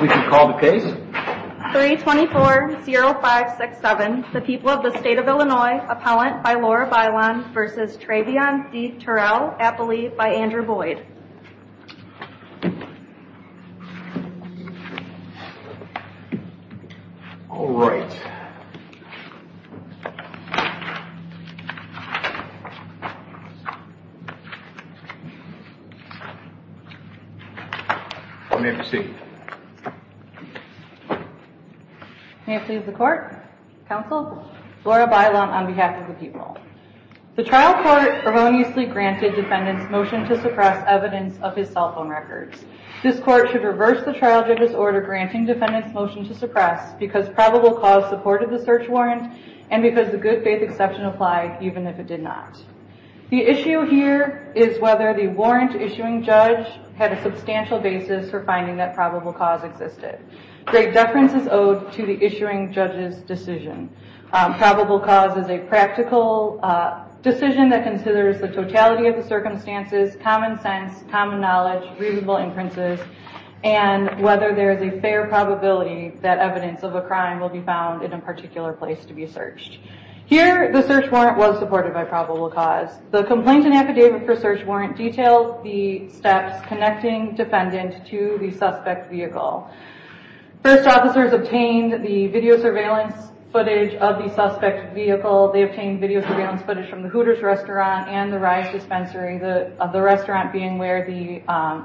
We can call the case. 324-0567, the people of the state of Illinois, appellant by Laura Bailon v. Treveon v. Terrell, appellee by Andrew Boyd v. Bailon, appellee by Andrew Boyd, appellee by Andrew Boyd, appellee by Andrew Boyd, Storie, Socialevance of Illinois, appellee by Andrew Boyd, Life Center of Illinois, the restaurant being where the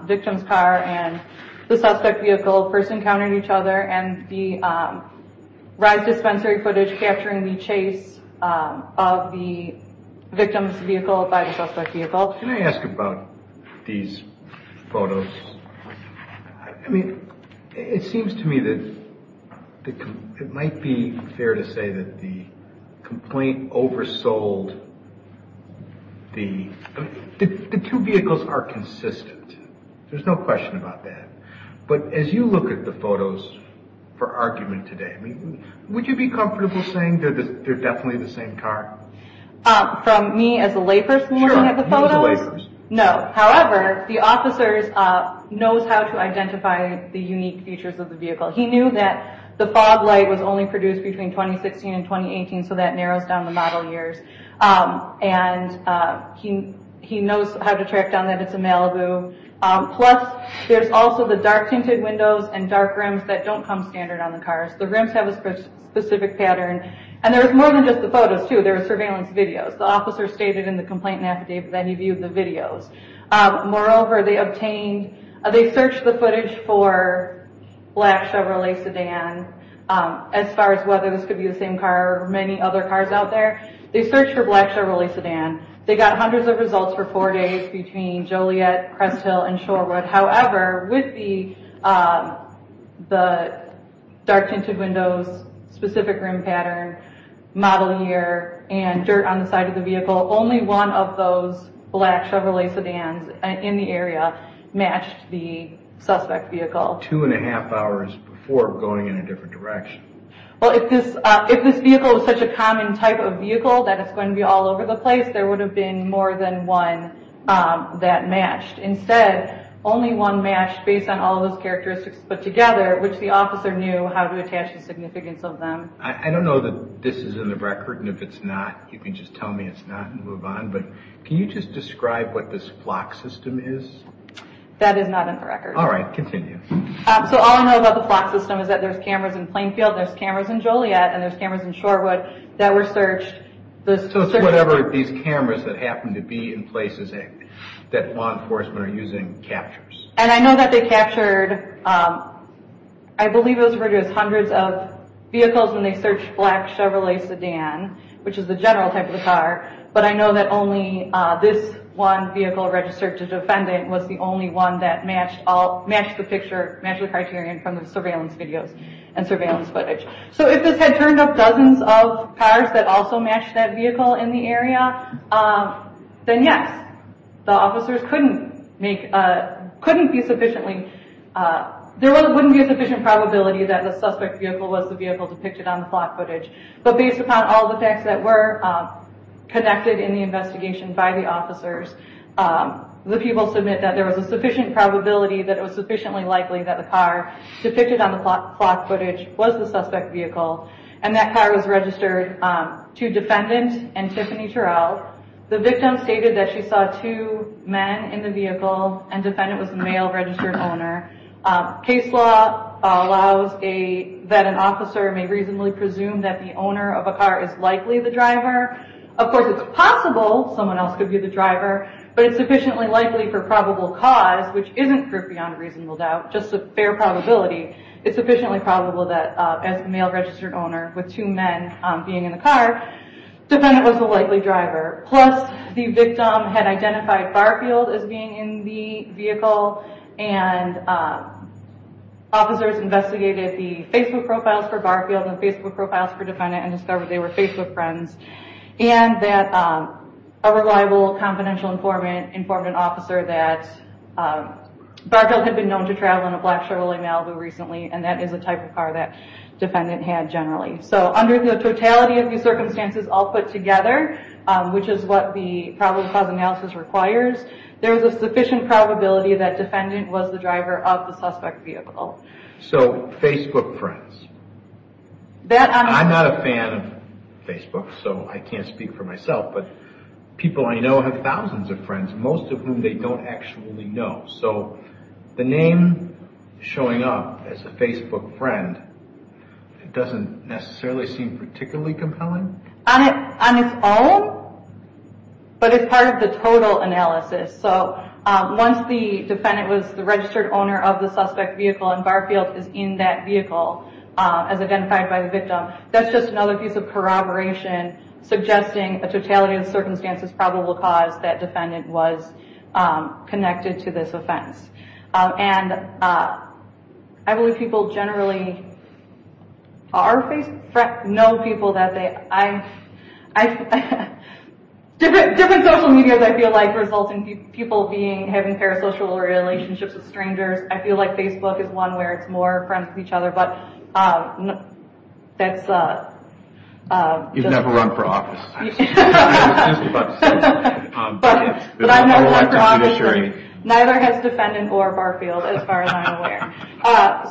victim's car and the suspect vehicle first encountered each other, and the ride dispensary footage capturing the chase of the victim's vehicle by the suspect vehicle. Can I ask about these photos? I mean, it seems to me that it might be fair to say that the complaint oversold the... the two vehicles are consistent. There's no question about that. But as you look at the photos for argument today, would you be comfortable saying they're definitely the same car? From me as a layperson looking at the photos? Sure, you as a layperson. No. However, the officer knows how to identify the unique features of the vehicle. He knew that the fog light was only produced between 2016 and 2018, so that narrows down the model years. And he knows how to track down that it's a Malibu. Plus, there's also the dark tinted windows and dark rims that don't come standard on the cars. The rims have a specific pattern, and there's more than just the photos, too. There are surveillance videos. The officer stated in the complaint affidavit that he viewed the videos. Moreover, they obtained... they searched the footage for black Chevrolet sedan, as far as whether this could be the same car or many other cars out there. They searched for black Chevrolet sedan. They got hundreds of results for four days between Joliet, Cresthill, and Shorewood. However, with the dark tinted windows, specific rim pattern, model year, and dirt on the side of the vehicle, only one of those black Chevrolet sedans in the area matched the suspect vehicle. Two and a half hours before going in a different direction. Well, if this vehicle was such a common type of vehicle that it's going to be all over the place, there would have been more than one that matched. Instead, only one matched based on all those characteristics put together, which the officer knew how to attach the significance of them. I don't know that this is in the record, and if it's not, you can just tell me it's not and move on, but can you just describe what this flock system is? That is not in the record. All right, continue. All I know about the flock system is that there's cameras in Plainfield, there's cameras in Joliet, and there's cameras in Shorewood that were searched. It's whatever these cameras that happen to be in places that law enforcement are using captures. I know that they captured, I believe it was hundreds of vehicles when they searched black Chevrolet sedan, which is the general type of car, but I know that only this one vehicle registered to defendant was the only one that matched the criterion from the surveillance videos and surveillance footage. So if this had turned up dozens of cars that also matched that vehicle in the area, then yes, the officers couldn't be sufficiently – there wouldn't be a sufficient probability that the suspect vehicle was the vehicle depicted on the flock footage. But based upon all the facts that were connected in the investigation by the officers, the people submit that there was a sufficient probability that it was sufficiently likely that the car depicted on the flock footage was the suspect vehicle, and that car was registered to defendant and Tiffany Terrell. The victim stated that she saw two men in the vehicle, and defendant was the male registered owner. Case law allows that an officer may reasonably presume that the owner of a car is likely the driver. Of course, it's possible someone else could be the driver, but it's sufficiently likely for probable cause, which isn't beyond reasonable doubt, just a fair probability. It's sufficiently probable that as the male registered owner with two men being in the car, defendant was the likely driver. Plus, the victim had identified Barfield as being in the vehicle, and officers investigated the Facebook profiles for Barfield and Facebook profiles for defendant and discovered they were Facebook friends, and that a reliable, confidential informant informed an officer that Barfield had been known to travel in a black Chevrolet Malibu recently, and that is a type of car that defendant had generally. So, under the totality of the circumstances all put together, which is what the probable cause analysis requires, there is a sufficient probability that defendant was the driver of the suspect vehicle. So, Facebook friends. I'm not a fan of Facebook, so I can't speak for myself, but people I know have thousands of friends, most of whom they don't actually know. So, the name showing up as a Facebook friend, it doesn't necessarily seem particularly compelling? On its own, but it's part of the total analysis. So, once the defendant was the registered owner of the suspect vehicle and Barfield is in that vehicle as identified by the victim, that's just another piece of corroboration suggesting a totality of the circumstances probable cause that defendant was connected to this offense. And I believe people generally are Facebook friends. I know people that they... Different social media, I feel like, result in people having parasocial relationships with strangers. I feel like Facebook is one where it's more friends with each other, but that's... You've never run for office. But I've never run for office and neither has defendant or Barfield, as far as I'm aware.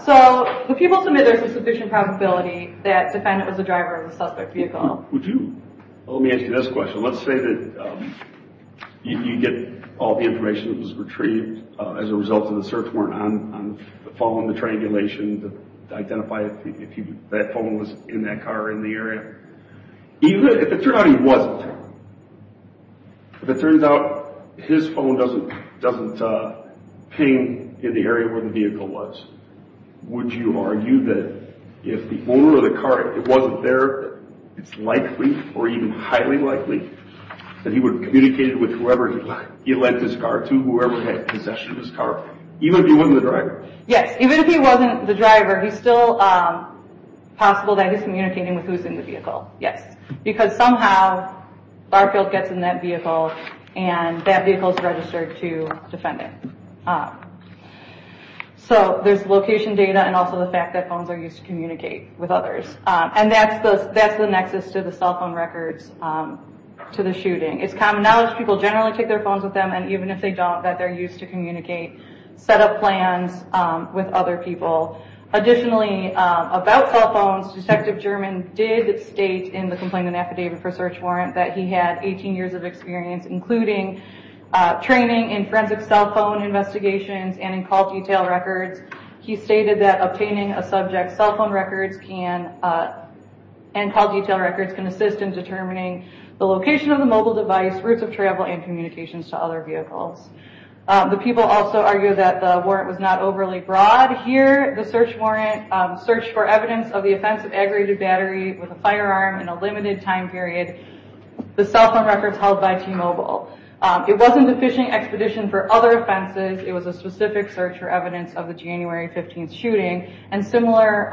So, the people submit there's a sufficient probability that defendant was the driver of the suspect vehicle. Well, let me ask you this question. Let's say that you get all the information that was retrieved as a result of the search warrant on following the triangulation to identify if that phone was in that car or in the area. If it turns out he wasn't, if it turns out his phone doesn't ping in the area where the vehicle was, would you argue that if the owner of the car wasn't there, it's likely or even highly likely that he would have communicated with whoever he lent his car to, whoever had possession of his car, even if he wasn't the driver? Yes, even if he wasn't the driver, it's still possible that he's communicating with who's in the vehicle. Yes. Because somehow, Barfield gets in that vehicle and that vehicle is registered to defendant. So, there's location data and also the fact that phones are used to communicate with others. And that's the nexus to the cell phone records to the shooting. It's common knowledge people generally take their phones with them and even if they don't, that they're used to communicate, set up plans with other people. Additionally, about cell phones, Detective German did state in the Complaint and Affidavit for Search Warrant that he had 18 years of experience, including training in forensic cell phone investigations and in call detail records. He stated that obtaining a subject's cell phone records and call detail records can assist in determining the location of the mobile device, routes of travel, and communications to other vehicles. The people also argue that the warrant was not overly broad. Here, the search warrant searched for evidence of the offense of aggravated battery with a firearm in a limited time period. The cell phone records held by T-Mobile. It wasn't a phishing expedition for other offenses. It was a specific search for evidence of the January 15th shooting. And similar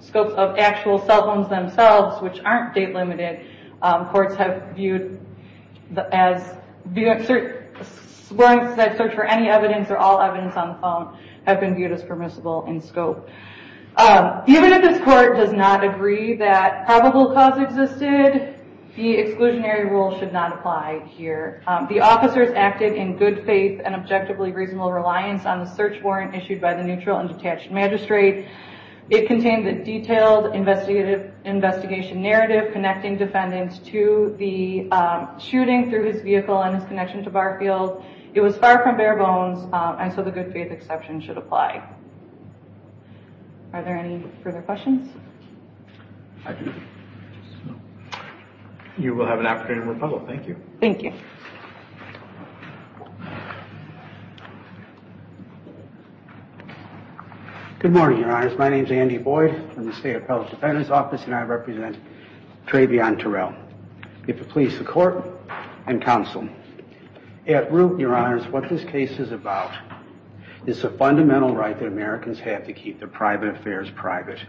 scopes of actual cell phones themselves, which aren't date limited, courts have viewed as... Search warrants that search for any evidence or all evidence on the phone have been viewed as permissible in scope. Even if this court does not agree that probable cause existed, the exclusionary rule should not apply here. The officers acted in good faith and objectively reasonable reliance on the search warrant issued by the neutral and detached magistrate. It contained a detailed investigation narrative connecting defendants to the shooting through his vehicle and his connection to Barfield. It was far from bare bones, and so the good faith exception should apply. Are there any further questions? I do. You will have an opportunity to rebuttal. Thank you. Thank you. Good morning, Your Honors. My name is Andy Boyd from the State Appellate Defendant's Office, and I represent Trayvion Terrell. If it please the court and counsel. At root, Your Honors, what this case is about is the fundamental right that Americans have to keep their private affairs private.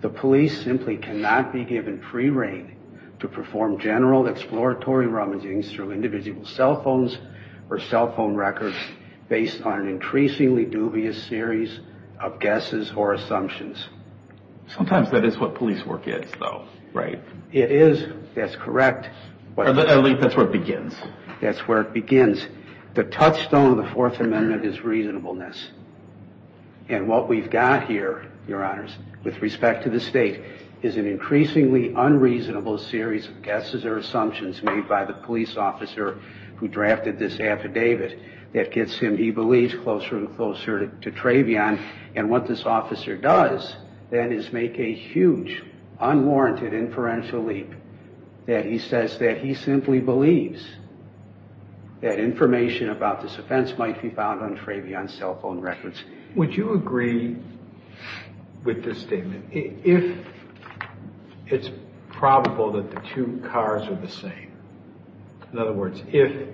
The police simply cannot be given free reign to perform general exploratory rummaging through individual cell phones or cell phone records based on an increasingly dubious series of guesses or assumptions. Sometimes that is what police work is, though, right? It is. That's correct. At least that's where it begins. That's where it begins. The touchstone of the Fourth Amendment is reasonableness. And what we've got here, Your Honors, with respect to the state, is an increasingly unreasonable series of guesses or assumptions made by the police officer who drafted this affidavit that gets him, he believes, closer and closer to Trayvion. And what this officer does, then, is make a huge, unwarranted inferential leap that he says that he simply believes that information about this offense might be found on Trayvion's cell phone records. Would you agree with this statement? If it's probable that the two cars are the same, in other words, if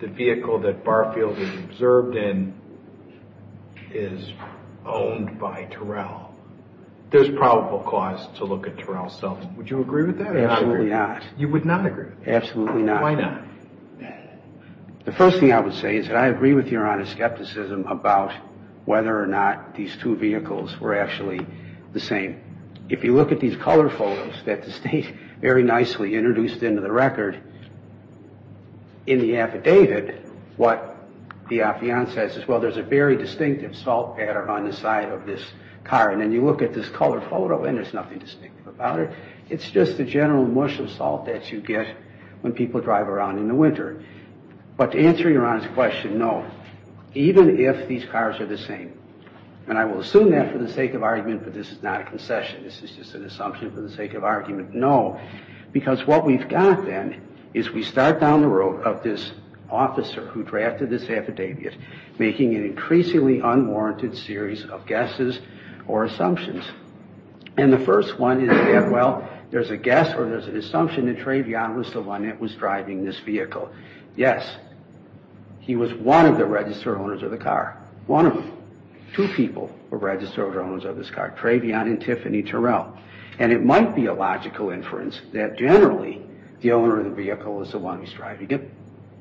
the vehicle that Barfield is observed in is owned by Terrell, there's probable cause to look at Terrell's cell phone. Would you agree with that? Absolutely not. You would not agree? Absolutely not. Why not? The first thing I would say is that I agree with Your Honor's skepticism about whether or not these two vehicles were actually the same. If you look at these color photos that the state very nicely introduced into the record in the affidavit, what the affiant says is, well, there's a very distinctive salt pattern on the side of this car. And then you look at this color photo, and there's nothing distinctive about it. It's just the general mush of salt that you get when people drive around in the winter. But to answer Your Honor's question, no, even if these cars are the same, and I will assume that for the sake of argument, but this is not a concession. This is just an assumption for the sake of argument. No, because what we've got, then, is we start down the road of this officer who drafted this affidavit making an increasingly unwarranted series of guesses or assumptions. And the first one is that, well, there's a guess or there's an assumption that Trayvion Lissabonette was driving this vehicle. Yes, he was one of the registered owners of the car. One of them. Two people were registered owners of this car, Trayvion and Tiffany Terrell. And it might be a logical inference that generally the owner of the vehicle is the one who's driving it.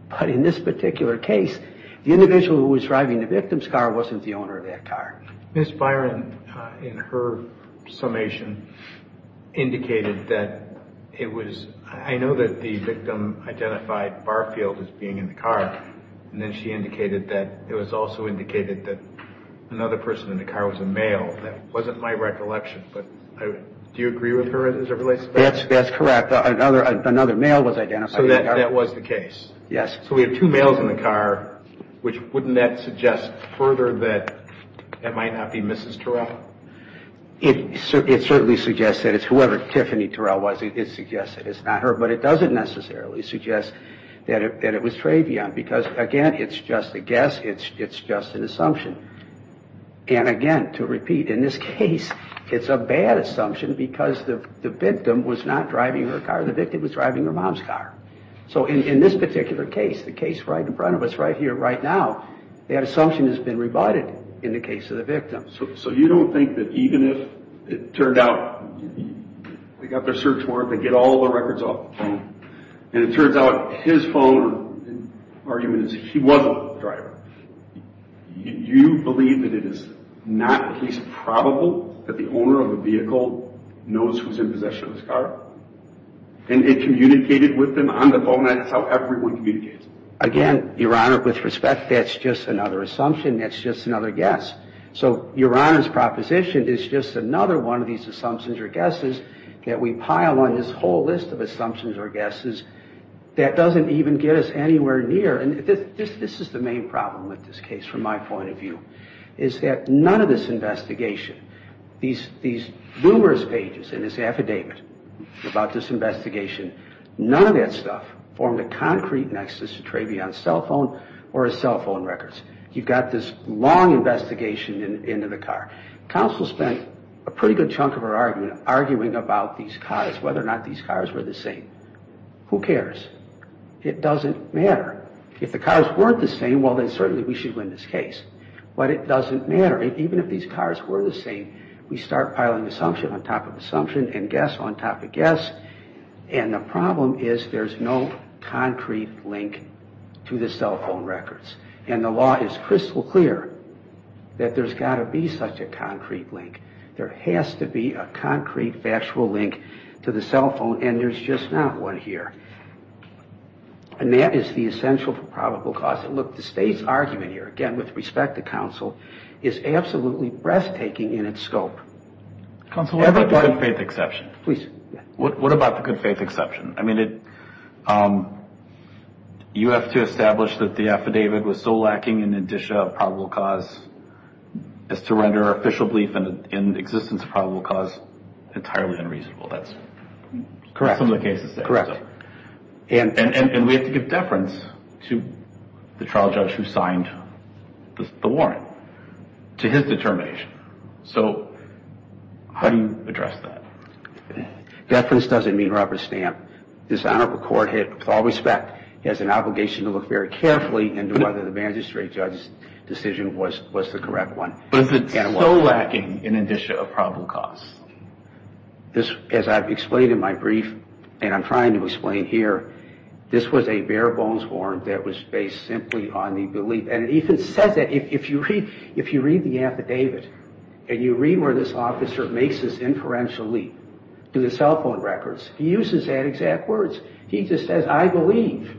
But in this particular case, the individual who was driving the victim's car wasn't the owner of that car. Ms. Byron, in her summation, indicated that it was – I know that the victim identified Barfield as being in the car, and then she indicated that it was also indicated that another person in the car was a male. That wasn't my recollection, but do you agree with her as it relates to that? That's correct. Another male was identified in the car. So that was the case? Yes. So we have two males in the car, which wouldn't that suggest further that it might not be Mrs. Terrell? It certainly suggests that it's whoever Tiffany Terrell was. It suggests that it's not her, but it doesn't necessarily suggest that it was Trayvion, because, again, it's just a guess. It's just an assumption. And, again, to repeat, in this case, it's a bad assumption because the victim was not driving her car. The victim was driving her mom's car. So in this particular case, the case right in front of us right here right now, that assumption has been rebutted in the case of the victim. So you don't think that even if it turned out they got their search warrant, they get all their records off the phone, and it turns out his phone argument is he wasn't the driver, you believe that it is not at least probable that the owner of the vehicle knows who's in possession of this car? And it communicated with them on the phone, and that's how everyone communicates. Again, Your Honor, with respect, that's just another assumption. That's just another guess. So Your Honor's proposition is just another one of these assumptions or guesses that we pile on this whole list of assumptions or guesses that doesn't even get us anywhere near, and this is the main problem with this case from my point of view, is that none of this investigation, these numerous pages in this affidavit about this investigation, none of that stuff formed a concrete nexus to Trayvion's cell phone or his cell phone records. You've got this long investigation into the car. Counsel spent a pretty good chunk of her argument arguing about these cars, whether or not these cars were the same. Who cares? It doesn't matter. If the cars weren't the same, well, then certainly we should win this case. But it doesn't matter. Even if these cars were the same, we start piling assumption on top of assumption and guess on top of guess, and the problem is there's no concrete link to the cell phone records. And the law is crystal clear that there's got to be such a concrete link. There has to be a concrete factual link to the cell phone, and there's just not one here. And that is the essential for probable cause. And, look, the state's argument here, again, with respect to counsel, is absolutely breathtaking in its scope. Counsel, what about the good faith exception? Please. What about the good faith exception? I mean, you have to establish that the affidavit was so lacking in indicia of probable cause as to render our official belief in existence of probable cause entirely unreasonable. That's some of the cases there. Correct. And we have to give deference to the trial judge who signed the warrant, to his determination. So how do you address that? Deference doesn't mean rubber stamp. This honorable court, with all respect, has an obligation to look very carefully into whether the magistrate judge's decision was the correct one. But is it so lacking in indicia of probable cause? As I've explained in my brief, and I'm trying to explain here, this was a bare bones warrant that was based simply on the belief. And it even says that if you read the affidavit, and you read where this officer makes this inferential leap to the cell phone records, he uses that exact words. He just says, I believe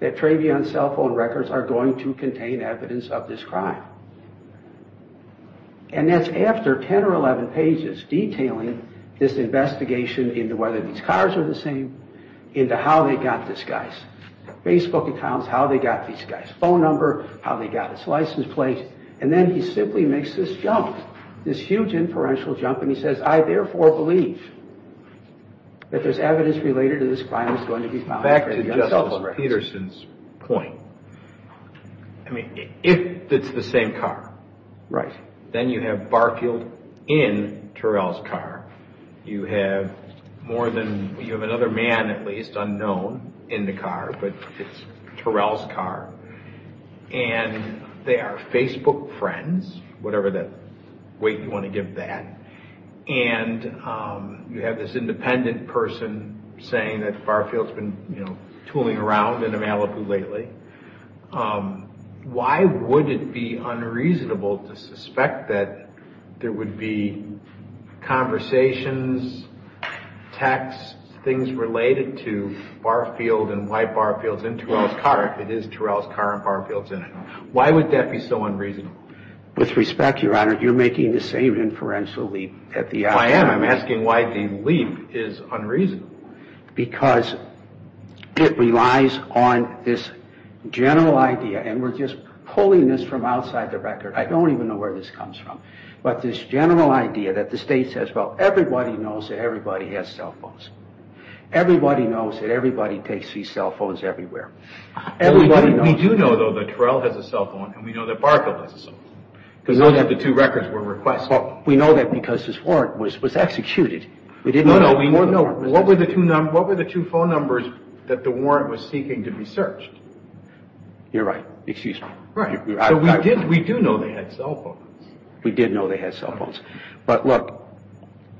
that Trayvion's cell phone records are going to contain evidence of this crime. And that's after 10 or 11 pages detailing this investigation into whether these cars are the same, into how they got this guy's Facebook accounts, how they got this guy's phone number, how they got his license plate. And then he simply makes this jump, this huge inferential jump, and he says, I therefore believe that there's evidence related to this crime that's going to be found in Trayvion's cell phone records. Back to Justice Peterson's point. I mean, if it's the same car, then you have Barfield in Terrell's car. You have another man, at least, unknown in the car, but it's Terrell's car. And they are Facebook friends, whatever weight you want to give that. And you have this independent person saying that Barfield's been tooling around in Malibu lately. Why would it be unreasonable to suspect that there would be conversations, texts, things related to Barfield and why Barfield's in Terrell's car, if it is Terrell's car and Barfield's in it? Why would that be so unreasonable? With respect, Your Honor, you're making the same inferential leap. I am. I'm asking why the leap is unreasonable. Because it relies on this general idea, and we're just pulling this from outside the record. I don't even know where this comes from. But this general idea that the state says, well, everybody knows that everybody has cell phones. Everybody knows that everybody takes these cell phones everywhere. We do know, though, that Terrell has a cell phone and we know that Barfield has a cell phone. We know that the two records were requested. We know that because this warrant was executed. What were the two phone numbers that the warrant was seeking to be searched? You're right. Excuse me. We do know they had cell phones. We did know they had cell phones. But look,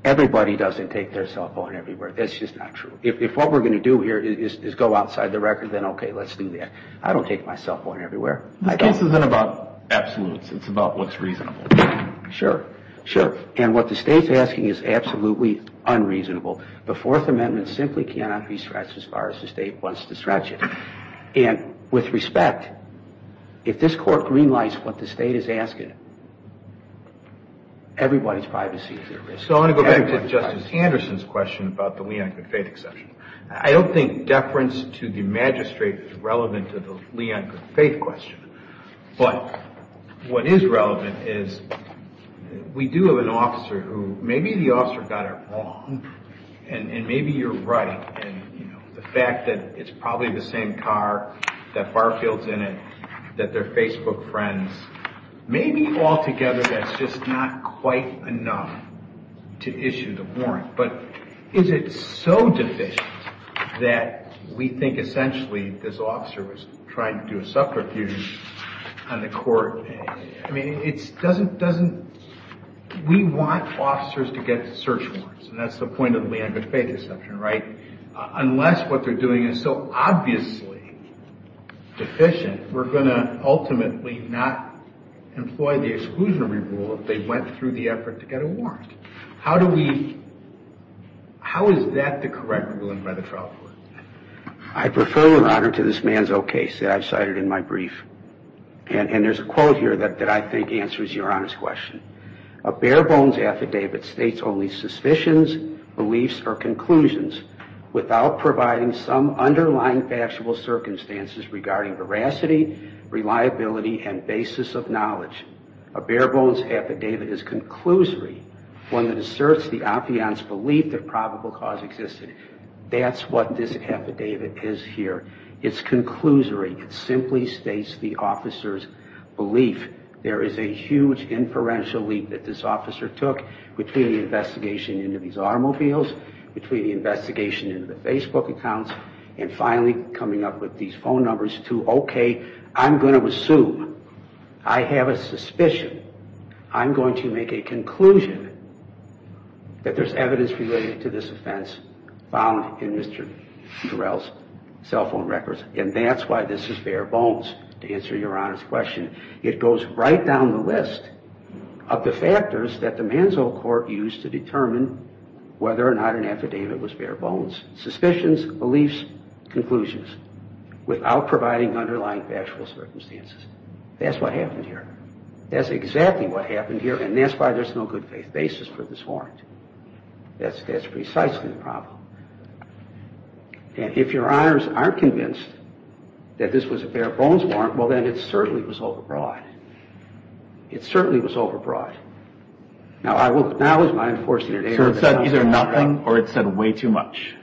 everybody doesn't take their cell phone everywhere. That's just not true. If what we're going to do here is go outside the record, then okay, let's do that. I don't take my cell phone everywhere. This case isn't about absolutes. It's about what's reasonable. Sure. Sure. And what the state's asking is absolutely unreasonable. The Fourth Amendment simply cannot be stretched as far as the state wants to stretch it. And with respect, if this Court greenlights what the state is asking, everybody's privacy is at risk. So I want to go back to Justice Anderson's question about the Lee-Anker faith exception. I don't think deference to the magistrate is relevant to the Lee-Anker faith question. But what is relevant is we do have an officer who maybe the officer got it wrong and maybe you're right. And the fact that it's probably the same car, that Barfield's in it, that they're Facebook friends, maybe altogether that's just not quite enough to issue the warrant. But is it so deficient that we think essentially this officer was trying to do a subterfuge on the court? I mean, we want officers to get search warrants, and that's the point of the Lee-Anker faith exception, right? Unless what they're doing is so obviously deficient, we're going to ultimately not employ the exclusionary rule if they went through the effort to get a warrant. How is that the correct ruling by the trial court? I prefer, Your Honor, to this Manzo case that I've cited in my brief. And there's a quote here that I think answers Your Honor's question. A bare-bones affidavit states only suspicions, beliefs, or conclusions without providing some underlying factual circumstances regarding veracity, reliability, and basis of knowledge. A bare-bones affidavit is conclusory, one that asserts the opion's belief that probable cause existed. That's what this affidavit is here. It's conclusory. It simply states the officer's belief. There is a huge inferential leap that this officer took between the investigation into these automobiles, between the investigation into the Facebook accounts, and finally coming up with these phone numbers to, okay, I'm going to assume, I have a suspicion, I'm going to make a conclusion that there's evidence related to this offense found in Mr. Durell's cell phone records. And that's why this is bare-bones, to answer Your Honor's question. It goes right down the list of the factors that the Manzo Court used to determine whether or not an affidavit was bare-bones, suspicions, beliefs, conclusions, without providing underlying factual circumstances. That's what happened here. That's exactly what happened here, and that's why there's no good-faith basis for this warrant. That's precisely the problem. And if Your Honors aren't convinced that this was a bare-bones warrant, well, then it certainly was overbroad. It certainly was overbroad. Now, I will acknowledge my unfortunate error. So it said either nothing or it said way too much.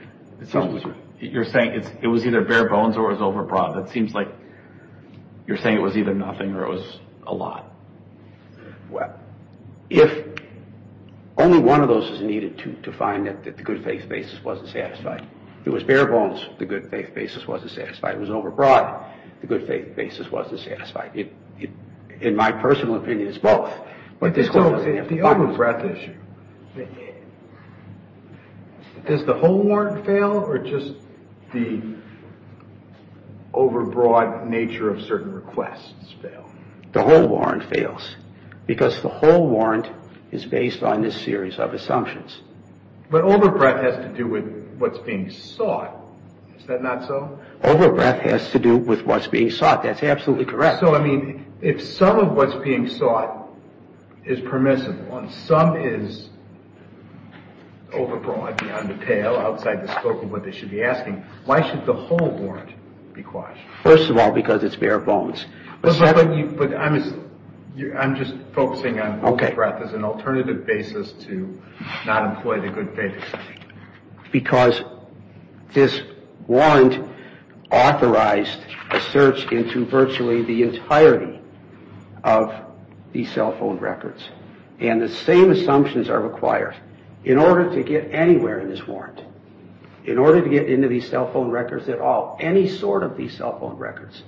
You're saying it was either bare-bones or it was overbroad. That seems like you're saying it was either nothing or it was a lot. Well, if only one of those is needed to find that the good-faith basis wasn't satisfied. If it was bare-bones, the good-faith basis wasn't satisfied. If it was overbroad, the good-faith basis wasn't satisfied. In my personal opinion, it's both. But the overbreadth issue, does the whole warrant fail or just the overbroad nature of certain requests fail? The whole warrant fails because the whole warrant is based on this series of assumptions. But overbreadth has to do with what's being sought. Is that not so? Overbreadth has to do with what's being sought. That's absolutely correct. So, I mean, if some of what's being sought is permissible and some is overbroad, beyond the pale, outside the scope of what they should be asking, why should the whole warrant be quashed? First of all, because it's bare-bones. But I'm just focusing on overbreadth as an alternative basis to not employ the good-faith. Because this warrant authorized a search into virtually the entirety of these cell phone records. And the same assumptions are required. In order to get anywhere in this warrant, in order to get into these cell phone records at all, any sort of these cell phone records,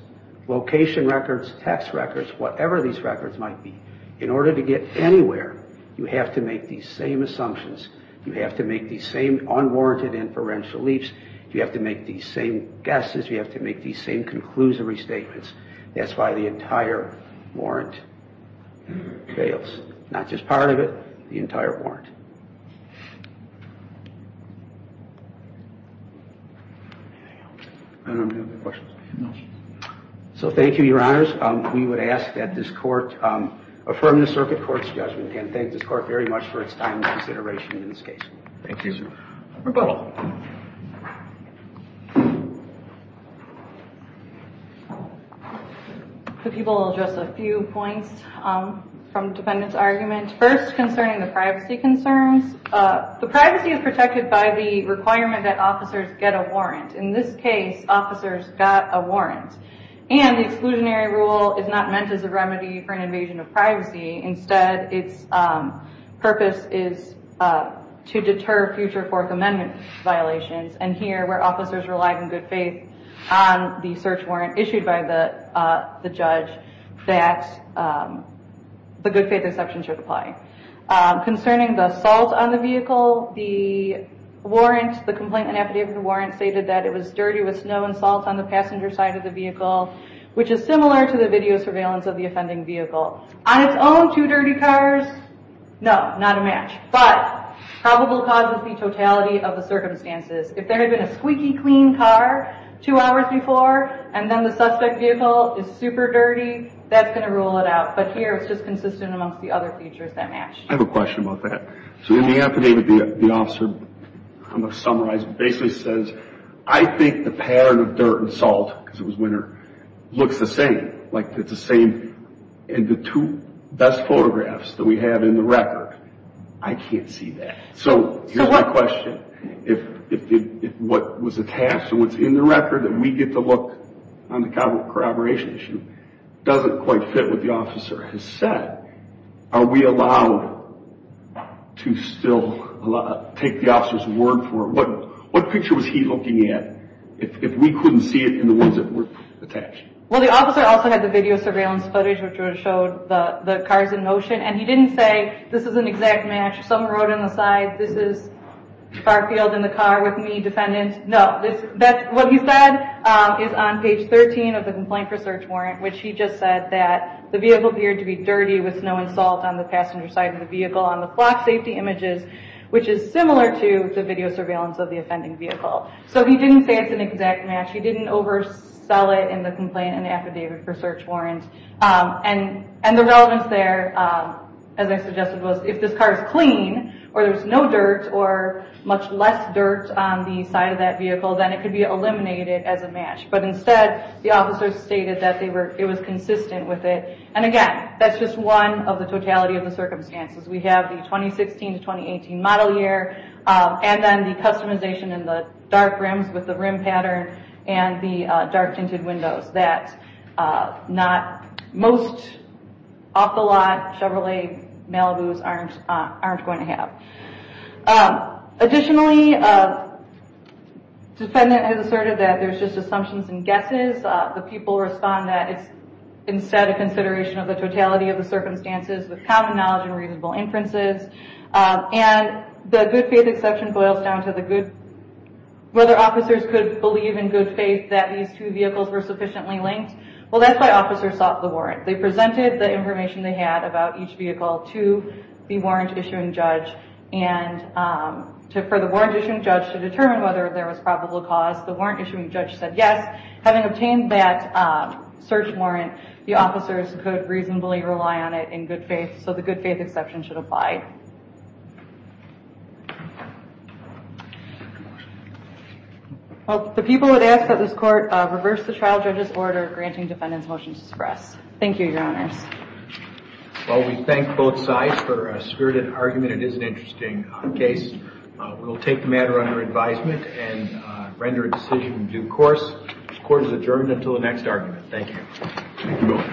location records, text records, whatever these records might be, in order to get anywhere, you have to make these same assumptions. You have to make these same unwarranted inferential leaps. You have to make these same guesses. You have to make these same conclusory statements. That's why the entire warrant fails. Not just part of it. The entire warrant. So thank you, your honors. We would ask that this court affirm the circuit court's judgment. And thank this court very much for its time and consideration in this case. Thank you, sir. We're good. Thank you, your honor. The people will address a few points from the defendant's argument. First, concerning the privacy concerns. The privacy is protected by the requirement that officers get a warrant. In this case, officers got a warrant. And the exclusionary rule is not meant as a remedy for an invasion of privacy. Instead, its purpose is to deter future Fourth Amendment violations. And here, where officers relied in good faith on the search warrant issued by the judge, that the good faith exception should apply. Concerning the salt on the vehicle, the warrant, the complaint and affidavit warrant stated that it was dirty with snow and salt on the passenger side of the vehicle, which is similar to the video surveillance of the offending vehicle. On its own, two dirty cars, no, not a match. But probable cause would be totality of the circumstances. If there had been a squeaky clean car two hours before, and then the suspect vehicle is super dirty, that's going to rule it out. But here, it's just consistent amongst the other features that match. I have a question about that. So in the affidavit, the officer, I'm going to summarize, basically says, I think the pattern of dirt and salt, because it was winter, looks the same. Like it's the same in the two best photographs that we have in the record. I can't see that. So here's my question. If what was attached and what's in the record, that we get to look on the corroboration issue, doesn't quite fit what the officer has said, are we allowed to still take the officer's word for it? What picture was he looking at? If we couldn't see it in the ones that were attached. Well, the officer also had the video surveillance footage, which would have showed the cars in motion. And he didn't say, this is an exact match. Someone wrote on the side, this is Garfield in the car with me, defendant. No, what he said is on page 13 of the complaint for search warrant, which he just said that the vehicle appeared to be dirty with snow and salt on the passenger side of the vehicle, on the clock safety images, which is similar to the video surveillance of the offending vehicle. So he didn't say it's an exact match. He didn't oversell it in the complaint and affidavit for search warrant. And the relevance there, as I suggested, was if this car is clean, or there's no dirt or much less dirt on the side of that vehicle, then it could be eliminated as a match. But instead, the officer stated that it was consistent with it. And again, that's just one of the totality of the circumstances. We have the 2016 to 2018 model year, and then the customization in the dark rims with the rim pattern and the dark tinted windows that most off-the-lot Chevrolet Malibus aren't going to have. Additionally, defendant has asserted that there's just assumptions and guesses. The people respond that it's instead a consideration of the totality of the circumstances with common knowledge and reasonable inferences. And the good faith exception boils down to whether officers could believe in good faith that these two vehicles were sufficiently linked. Well, that's why officers sought the warrant. They presented the information they had about each vehicle to the warrant issuing judge, and for the warrant issuing judge to determine whether there was probable cause, the warrant issuing judge said yes. Having obtained that search warrant, the officers could reasonably rely on it in good faith, so the good faith exception should apply. Well, the people have asked that this court reverse the trial judge's order granting defendant's motion to express. Thank you, your honors. Well, we thank both sides for a spirited argument. It is an interesting case. We'll take the matter under advisement and render a decision in due course. Court is adjourned until the next argument. Thank you.